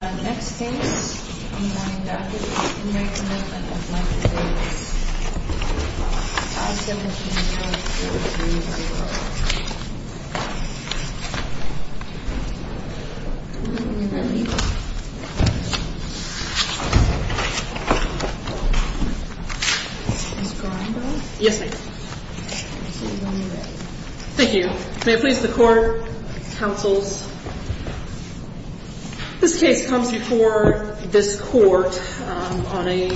Next case, I'm going back to the Commitment of Michael Davis. I'll stand with you in front of the jury. Are you ready? Are you ready? Is this going well? Yes, ma'am. Thank you. May it please the Court, Counsels. This case comes before this Court on a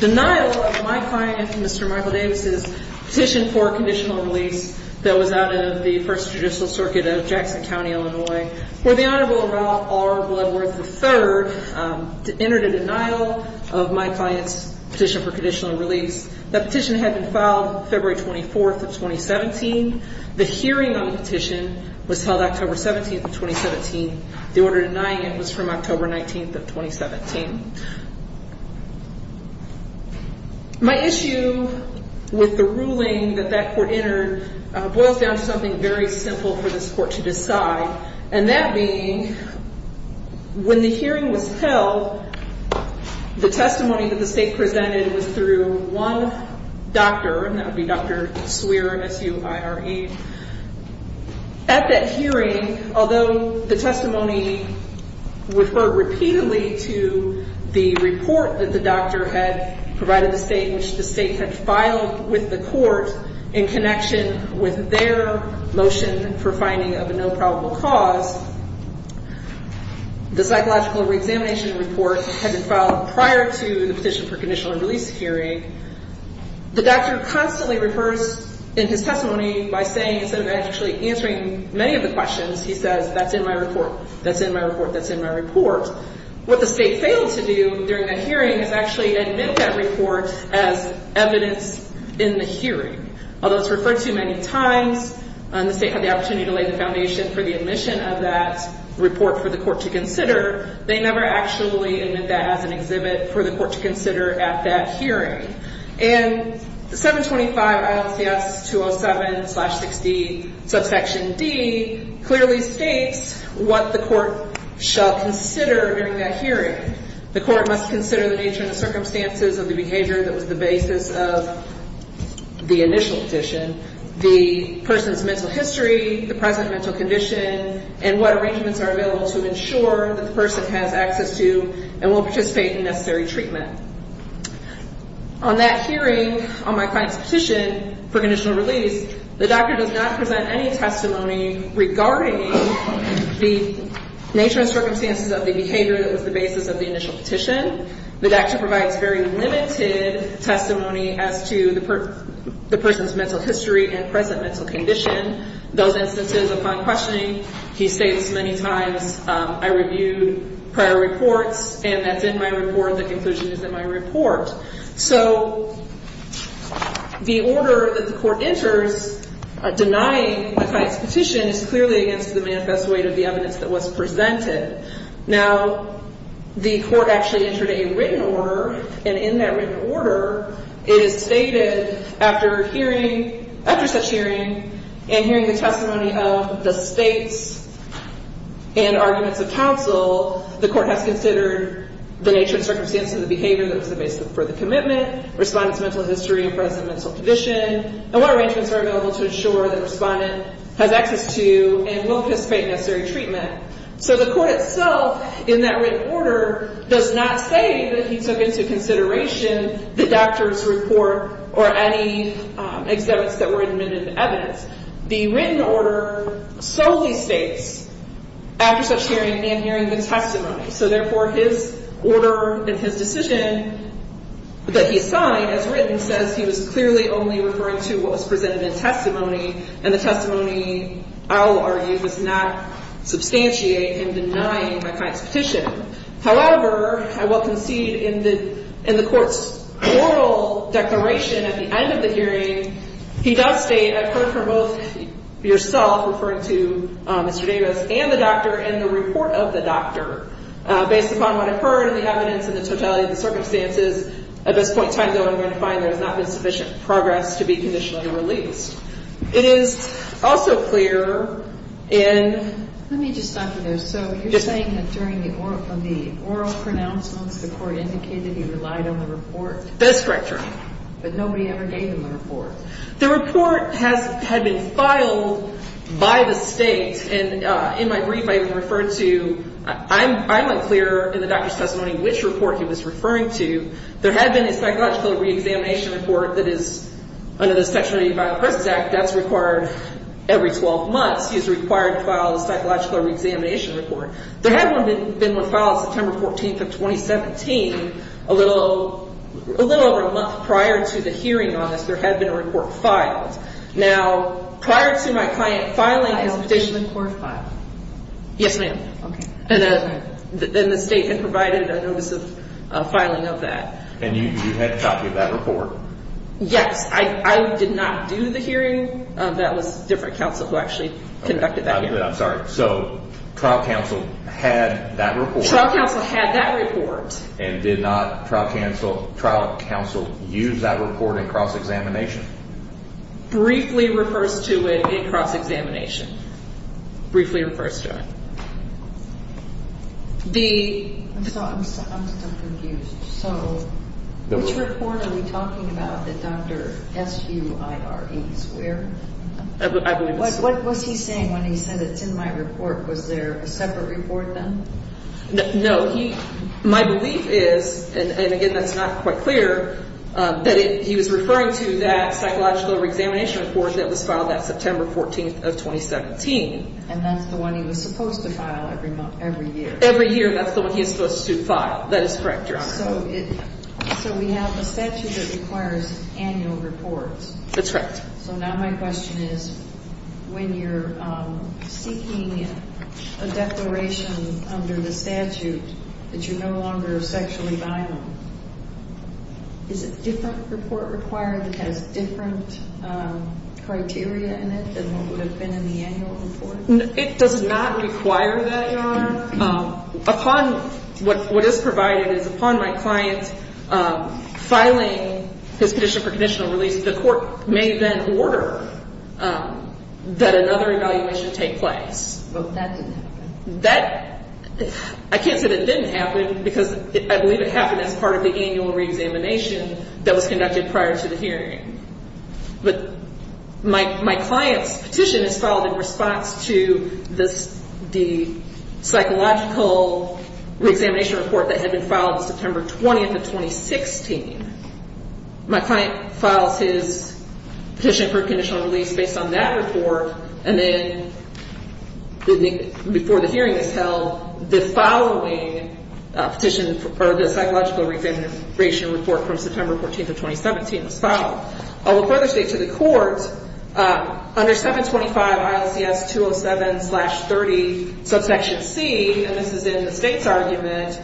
denial of my client, Mr. Michael Davis' petition for conditional release that was out of the First Judicial Circuit of Jackson County, Illinois, where the Honorable Ralph R. Bloodworth III entered a denial of my client's petition for conditional release. The petition had been filed February 24th of 2017. The hearing on the petition was held October 17th of 2017. The order denying it was from October 19th of 2017. My issue with the ruling that that Court entered boils down to something very simple for this Court to decide, and that being when the hearing was held, the testimony that the State presented was through one doctor, and that would be Dr. Swear, S-U-I-R-E. At that hearing, although the testimony referred repeatedly to the report that the doctor had provided the State, which the State had filed with the Court in connection with their motion for finding of a no probable cause, the psychological reexamination report had been filed prior to the petition for conditional release hearing. The doctor constantly refers in his testimony by saying, instead of actually answering many of the questions, he says, that's in my report, that's in my report, that's in my report. What the State failed to do during that hearing is actually admit that report as evidence in the hearing. Although it's referred to many times, the State had the opportunity to lay the foundation for the admission of that report for the Court to consider, they never actually admit that as an exhibit for the Court to consider at that hearing. And the 725 ILCS 207-60 subsection D clearly states what the Court shall consider during that hearing. The Court must consider the nature and the circumstances of the behavior that was the basis of the initial petition, the person's mental history, the present mental condition, and what arrangements are available to ensure that the person has access to and will participate in necessary treatment. On that hearing, on my client's petition for conditional release, the doctor does not present any testimony regarding the nature and circumstances of the behavior that was the basis of the initial petition. The doctor provides very limited testimony as to the person's mental history and present mental condition. Those instances of my questioning, he states many times, I reviewed prior reports, and that's in my report. The conclusion is in my report. So the order that the Court enters denying a client's petition is clearly against the manifest weight of the evidence that was presented. Now, the Court actually entered a written order, and in that written order, it is stated, after such hearing and hearing the testimony of the states and arguments of counsel, the Court has considered the nature and circumstances of the behavior that was the basis for the commitment, respondent's mental history and present mental condition, and what arrangements are available to ensure that the respondent has access to and will participate in necessary treatment. So the Court itself, in that written order, does not say that he took into consideration the doctor's report or any exhibits that were admitted to evidence. The written order solely states, after such hearing and hearing the testimony. So therefore, his order and his decision that he signed as written says he was clearly only referring to what was presented in testimony, and the testimony, I will argue, does not substantiate in denying the client's petition. However, I will concede in the Court's oral declaration at the end of the hearing, he does state, I've heard from both yourself, referring to Mr. Davis, and the doctor, and the report of the doctor. Based upon what I've heard and the evidence and the totality of the circumstances, at this point in time, though, I'm going to find there has not been sufficient progress to be conditionally released. It is also clear in. Let me just stop you there. So you're saying that during the oral pronouncements, the Court indicated he relied on the report? That's correct, Your Honor. But nobody ever gave him the report. The report had been filed by the state, and in my brief, I referred to, I went clear in the doctor's testimony which report he was referring to. There had been a psychological reexamination report that is, under the Section 80 of the Violent Persons Act, that's required every 12 months. He's required to file a psychological reexamination report. There had been one filed September 14th of 2017. A little over a month prior to the hearing on this, there had been a report filed. Now, prior to my client filing his petition. Yes, ma'am. Okay. And the state then provided a notice of filing of that. And you had a copy of that report? Yes. I did not do the hearing. That was different counsel who actually conducted that hearing. I'm sorry. So trial counsel had that report? Trial counsel had that report. And did not trial counsel use that report in cross-examination? Briefly refers to it in cross-examination. Briefly refers to it. I'm so confused. So which report are we talking about that Dr. Suire is wearing? What was he saying when he said it's in my report? Was there a separate report then? No. My belief is, and, again, that's not quite clear, that he was referring to that psychological re-examination report that was filed that September 14th of 2017. And that's the one he was supposed to file every year. Every year. That's the one he was supposed to file. That is correct, Your Honor. So we have a statute that requires annual reports. That's correct. So now my question is, when you're seeking a declaration under the statute that you're no longer sexually violent, is a different report required that has different criteria in it than what would have been in the annual report? It does not require that, Your Honor. Upon what is provided is upon my client filing his petition for conditional release, the court may then order that another evaluation take place. But that didn't happen. That, I can't say that it didn't happen, because I believe it happened as part of the annual re-examination that was conducted prior to the hearing. But my client's petition is filed in response to the psychological re-examination report that had been filed September 20th of 2016. My client files his petition for conditional release based on that report, and then before the hearing is held, the following psychological re-examination report from September 14th of 2017 was filed. I will further state to the court, under 725 ILCS 207-30, subsection C, and this is in the state's argument,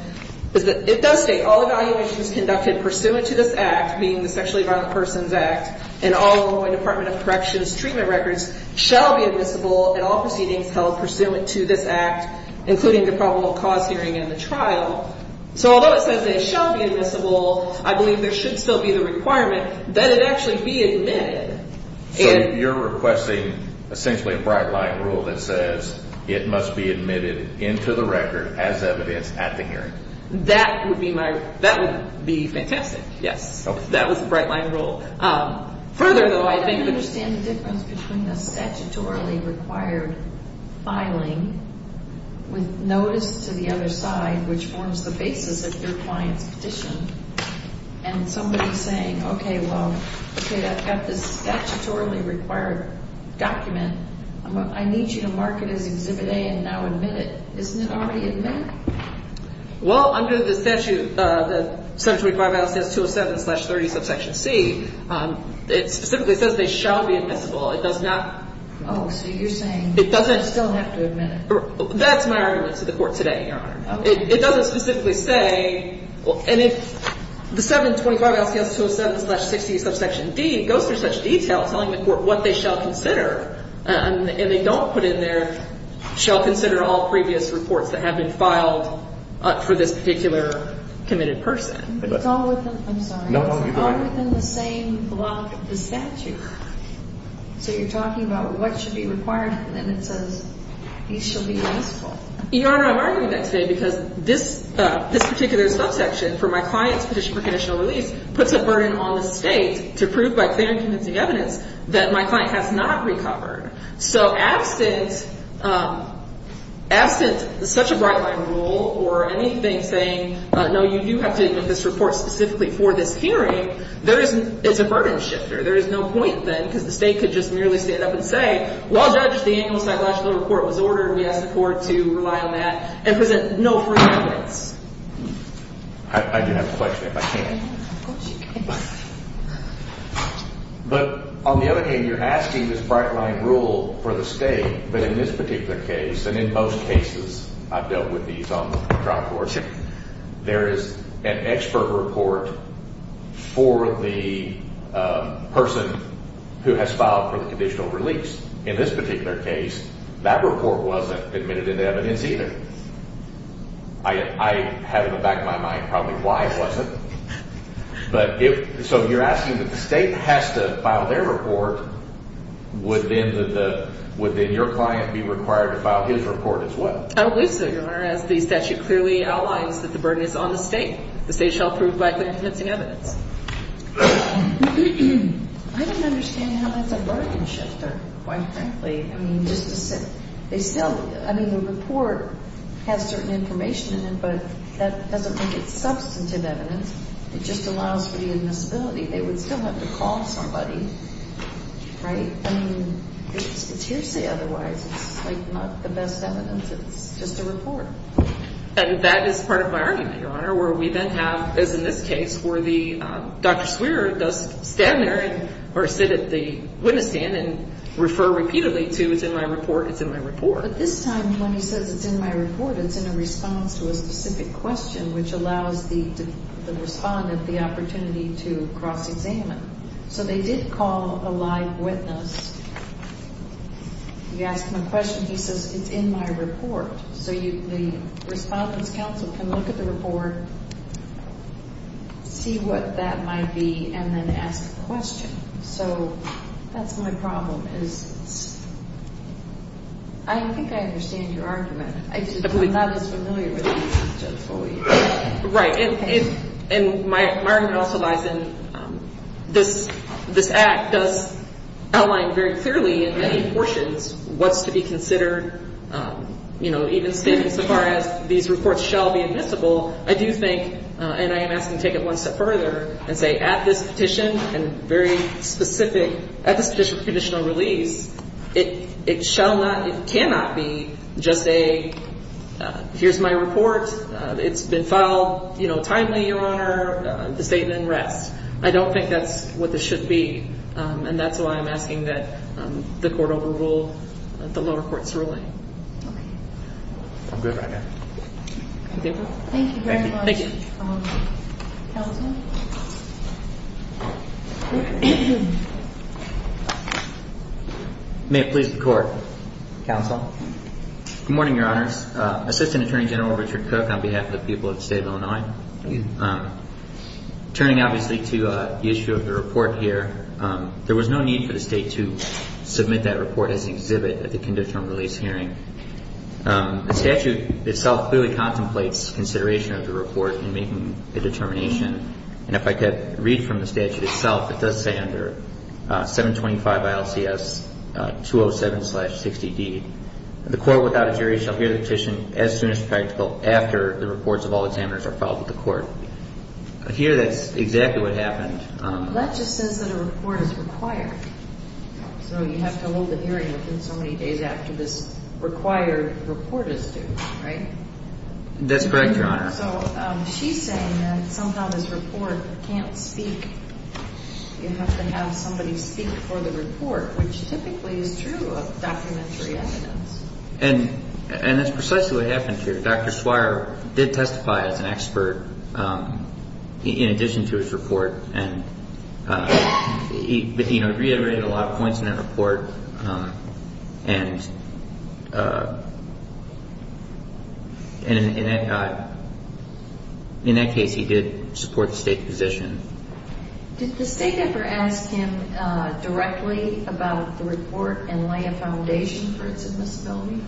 it does state, all evaluations conducted pursuant to this act, being the Sexually Violent Persons Act, and all law and department of corrections treatment records, shall be admissible in all proceedings held pursuant to this act, including the probable cause hearing and the trial. So although it says that it shall be admissible, I believe there should still be the requirement that it actually be admitted. So you're requesting essentially a bright light rule that says it must be admitted into the record as evidence at the hearing. That would be my, that would be fantastic, yes. That was a bright light rule. Further though, I think... I don't understand the difference between the statutorily required filing with notice to the other side, which forms the basis of your client's petition, and somebody saying, okay, well, okay, I've got this statutorily required document, I need you to mark it as Exhibit A and now admit it. Isn't it already admitted? Well, under the statute, the 725-207-30C, it specifically says they shall be admissible. It does not... Oh, so you're saying... It doesn't... They still have to admit it. That's my argument to the Court today, Your Honor. Okay. It doesn't specifically say... And if the 725-207-60D goes through such detail telling the Court what they shall consider, and they don't put in there, shall consider all previous reports that have been filed for this particular committed person. It's all within... I'm sorry. No, go ahead. It's all within the same block of the statute. So you're talking about what should be required, and then it says, he shall be admissible. Your Honor, I'm arguing that today because this particular subsection for my client's petition for conditional release puts a burden on the State to prove by clear and convincing evidence that my client has not recovered. So absent such a bright-line rule or anything saying, no, you do have to admit this report specifically for this hearing, it's a burden shifter. There is no point then because the State could just merely stand up and say, well, Judge, the annual psychological report was ordered and we asked the Court to rely on that, and present no proof of evidence. I do have a question, if I can. Of course you can. But on the other hand, you're asking this bright-line rule for the State, but in this particular case, and in most cases I've dealt with these on the trial court, there is an expert report for the person who has filed for the conditional release. In this particular case, that report wasn't admitted into evidence either. I have in the back of my mind probably why it wasn't. So you're asking that the State has to file their report. Would then your client be required to file his report as well? I believe so, Your Honor, as the statute clearly outlines that the burden is on the State. The State shall prove by clear and convincing evidence. I don't understand how that's a burden shifter, quite frankly. I mean, the report has certain information in it, but that doesn't make it substantive evidence. It just allows for the admissibility. They would still have to call somebody, right? I mean, it's hearsay otherwise. It's like not the best evidence. It's just a report. And that is part of my argument, Your Honor, where we then have, as in this case, where Dr. Swearer does stand there or sit at the witness stand and refer repeatedly to, it's in my report, it's in my report. But this time when he says, it's in my report, it's in a response to a specific question, which allows the respondent the opportunity to cross-examine. So they did call a live witness. You ask him a question, he says, it's in my report. So the respondent's counsel can look at the report, see what that might be, and then ask a question. So that's my problem, is I think I understand your argument. I'm not as familiar with these things just fully. Right. And my argument also lies in this Act does outline very clearly in many portions what's to be considered, you know, even stating so far as these reports shall be admissible, I do think, and I am asking to take it one step further and say at this petition and very specific, at this petition of conditional release, it shall not, it cannot be just a, here's my report, it's been filed, you know, timely, Your Honor, the statement rests. I don't think that's what this should be. And that's why I'm asking that the court overrule the lower court's ruling. Okay. I'm good right now. Thank you very much. Thank you. Counsel? May it please the Court. Counsel. Good morning, Your Honors. Assistant Attorney General Richard Cook on behalf of the people of the state of Illinois. Thank you. Turning obviously to the issue of the report here, there was no need for the state to submit that report as an exhibit at the conditional release hearing. The statute itself clearly contemplates consideration of the report in making a determination. And if I could read from the statute itself, it does say under 725 ILCS 207-60D, the court without a jury shall hear the petition as soon as practical after the reports of all examiners are filed with the court. Here that's exactly what happened. That just says that a report is required. So you have to hold the hearing within so many days after this required report is due, right? That's correct, Your Honor. So she's saying that sometimes this report can't speak. You have to have somebody speak for the report, which typically is true of documentary evidence. And that's precisely what happened here. Dr. Swire did testify as an expert in addition to his report. And he reiterated a lot of points in that report. And in that case he did support the state's position. Did the state ever ask him directly about the report and lay a foundation for its admissibility?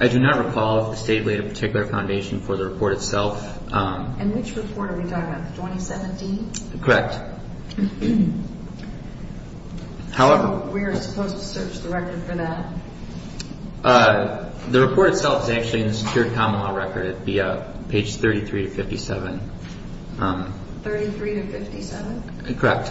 I do not recall if the state laid a particular foundation for the report itself. And which report are we talking about, the 2017? Correct. So we're supposed to search the record for that? The report itself is actually in the secured common law record at page 33 to 57. 33 to 57? Correct.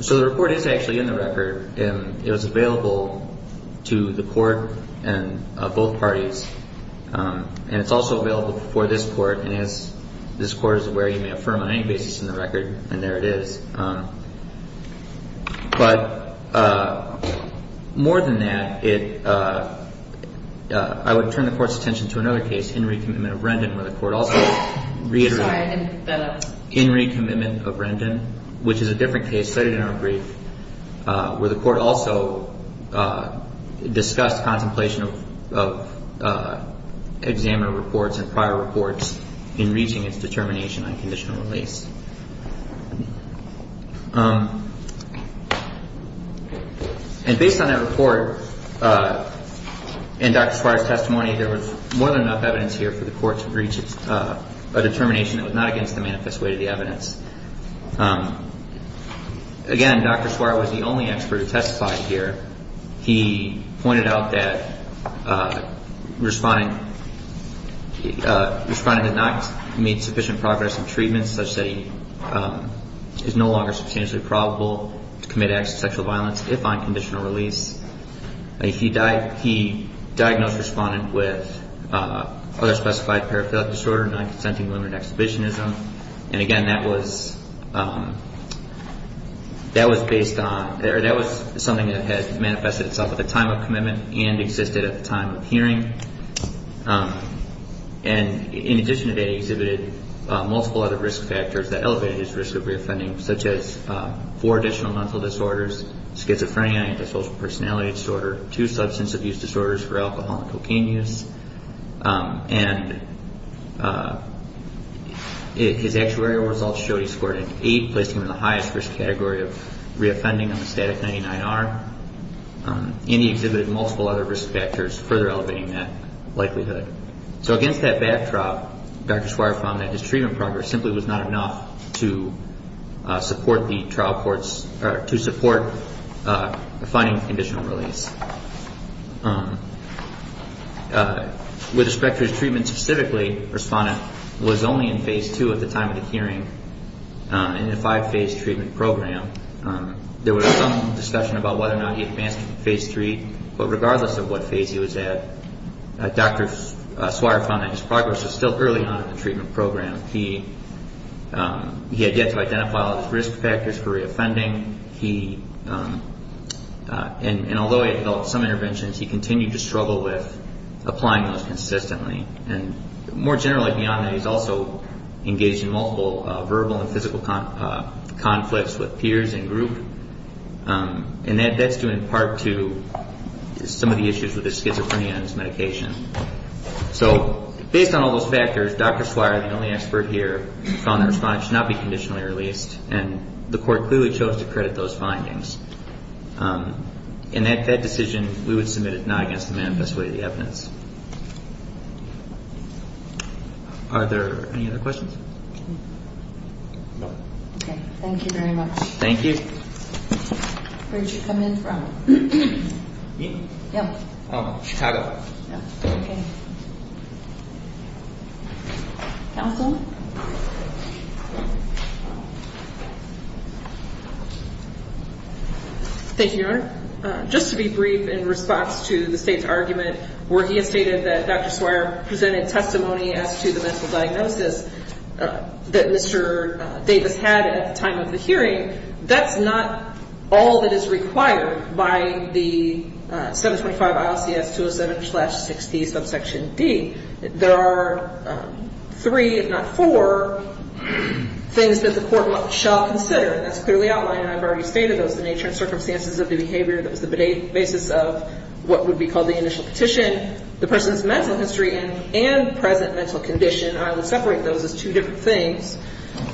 So the report is actually in the record. And it was available to the court and both parties. And it's also available for this court. And as this court is aware, you may affirm on any basis in the record. And there it is. But more than that, I would turn the court's attention to another case, Henry Commitment of Rendon, where the court also reiterated Henry Commitment of Rendon, which is a different case cited in our brief, where the court also discussed contemplation of examiner reports and prior reports in reaching its determination on conditional release. And based on that report and Dr. Suarez's testimony, there was more than enough evidence here for the court to reach a determination that was not against the manifest weight of the evidence. Again, Dr. Suarez was the only expert who testified here. He pointed out that the respondent had not made sufficient progress in treatment, such that he is no longer substantially probable to commit acts of sexual violence if on conditional release. He diagnosed the respondent with other specified paraphilic disorder, non-consenting limited exhibitionism. And, again, that was something that had manifested itself at the time of commitment and existed at the time of hearing. And in addition to that, he exhibited multiple other risk factors that elevated his risk of reoffending, such as four additional mental disorders, schizophrenia, antisocial personality disorder, two substance abuse disorders for alcohol and cocaine use. And his actuarial results showed he scored an 8, placing him in the highest risk category of reoffending on the static 99R. And he exhibited multiple other risk factors, further elevating that likelihood. So against that backdrop, Dr. Suarez found that his treatment progress simply was not enough to support the finding of conditional release. With respect to his treatment specifically, the respondent was only in Phase 2 at the time of the hearing in a five-phase treatment program. There was some discussion about whether or not he advanced to Phase 3, but regardless of what phase he was at, Dr. Suarez found that his progress was still early on in the treatment program. He had yet to identify all of his risk factors for reoffending. And although he had developed some interventions, he continued to struggle with applying those consistently. And more generally beyond that, he's also engaged in multiple verbal and physical conflicts with peers and group. And that's due in part to some of the issues with his schizophrenia and his medication. So based on all those factors, Dr. Suarez, the only expert here, found that his response should not be conditionally released, and the court clearly chose to credit those findings. And that decision, we would submit it not against the manifest way of the evidence. Are there any other questions? Thank you. Thank you very much. Just to be brief, in response to the state's argument where he had stated that Dr. Suarez presented testimony as to the mental diagnosis that Mr. Davis had at the time of the hearing, that's not all that is required by the 725 ILCS 207-60 subsection D. There are three, if not four, things that the court shall consider. That's clearly outlined, and I've already stated those. The nature and circumstances of the behavior that was the basis of what would be called the initial petition, the person's mental history and present mental condition, I will separate those as two different things,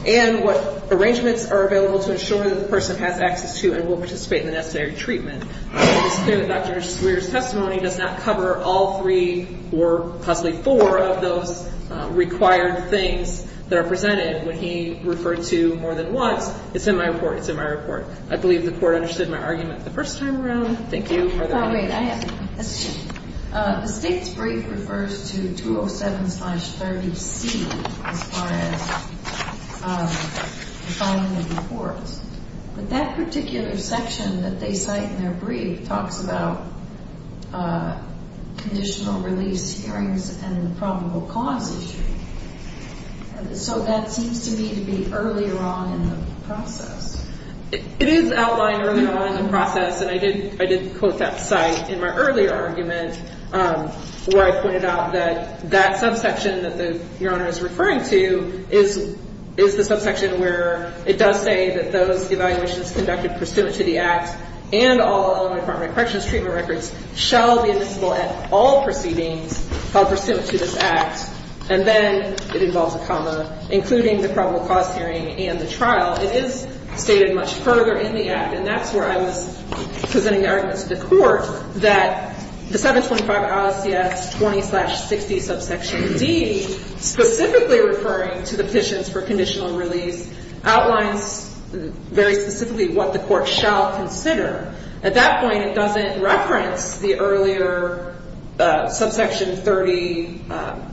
and what arrangements are available to ensure that the person has access to and will participate in the necessary treatment. It's clear that Dr. Suarez's testimony does not cover all three, or possibly four, of those required things that are presented. When he referred to more than once, it's in my report, it's in my report. I believe the court understood my argument the first time around. Thank you. The state's brief refers to 207-30C as far as the following reports. But that particular section that they cite in their brief talks about conditional release hearings and the probable cause issue, so that seems to me to be earlier on in the process. It is outlined earlier on in the process, and I did quote that site in my earlier argument where I pointed out that that subsection that Your Honor is referring to is the subsection where it does say that those evaluations conducted pursuant to the Act and all Illinois Department of Corrections treatment records shall be admissible at all proceedings pursuant to this Act. And then it involves a comma, including the probable cause hearing and the trial. It is stated much further in the Act, and that's where I was presenting the argument to the Court that the 725 ISCS 20-60 subsection D specifically referring to the petitions for conditional release outlines very specifically what the Court shall consider. At that point, it doesn't reference the earlier subsection 30, or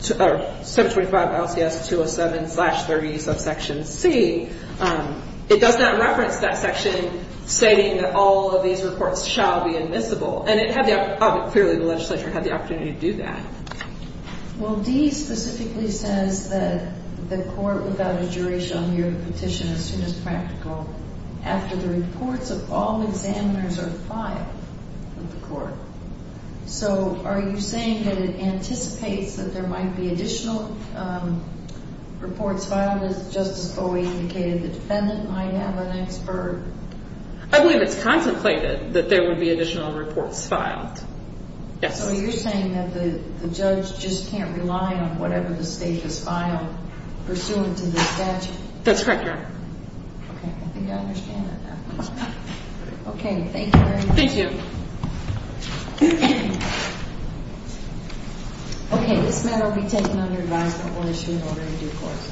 725 ISCS 207-30 subsection C. It does not reference that section stating that all of these reports shall be admissible. And it had the, clearly the legislature had the opportunity to do that. Well, D specifically says that the Court without a jury shall hear the petition as soon as practical after the reports of all examiners are filed with the Court. So are you saying that it anticipates that there might be additional reports filed, as Justice Bowie indicated the defendant might have an expert? I believe it's contemplated that there would be additional reports filed. Yes. So you're saying that the judge just can't rely on whatever the state has filed pursuant to the statute? That's correct, Your Honor. Okay, I think I understand that now. Okay, thank you very much. Thank you. Okay, this matter will be taken under advisement. We'll issue an order in due course.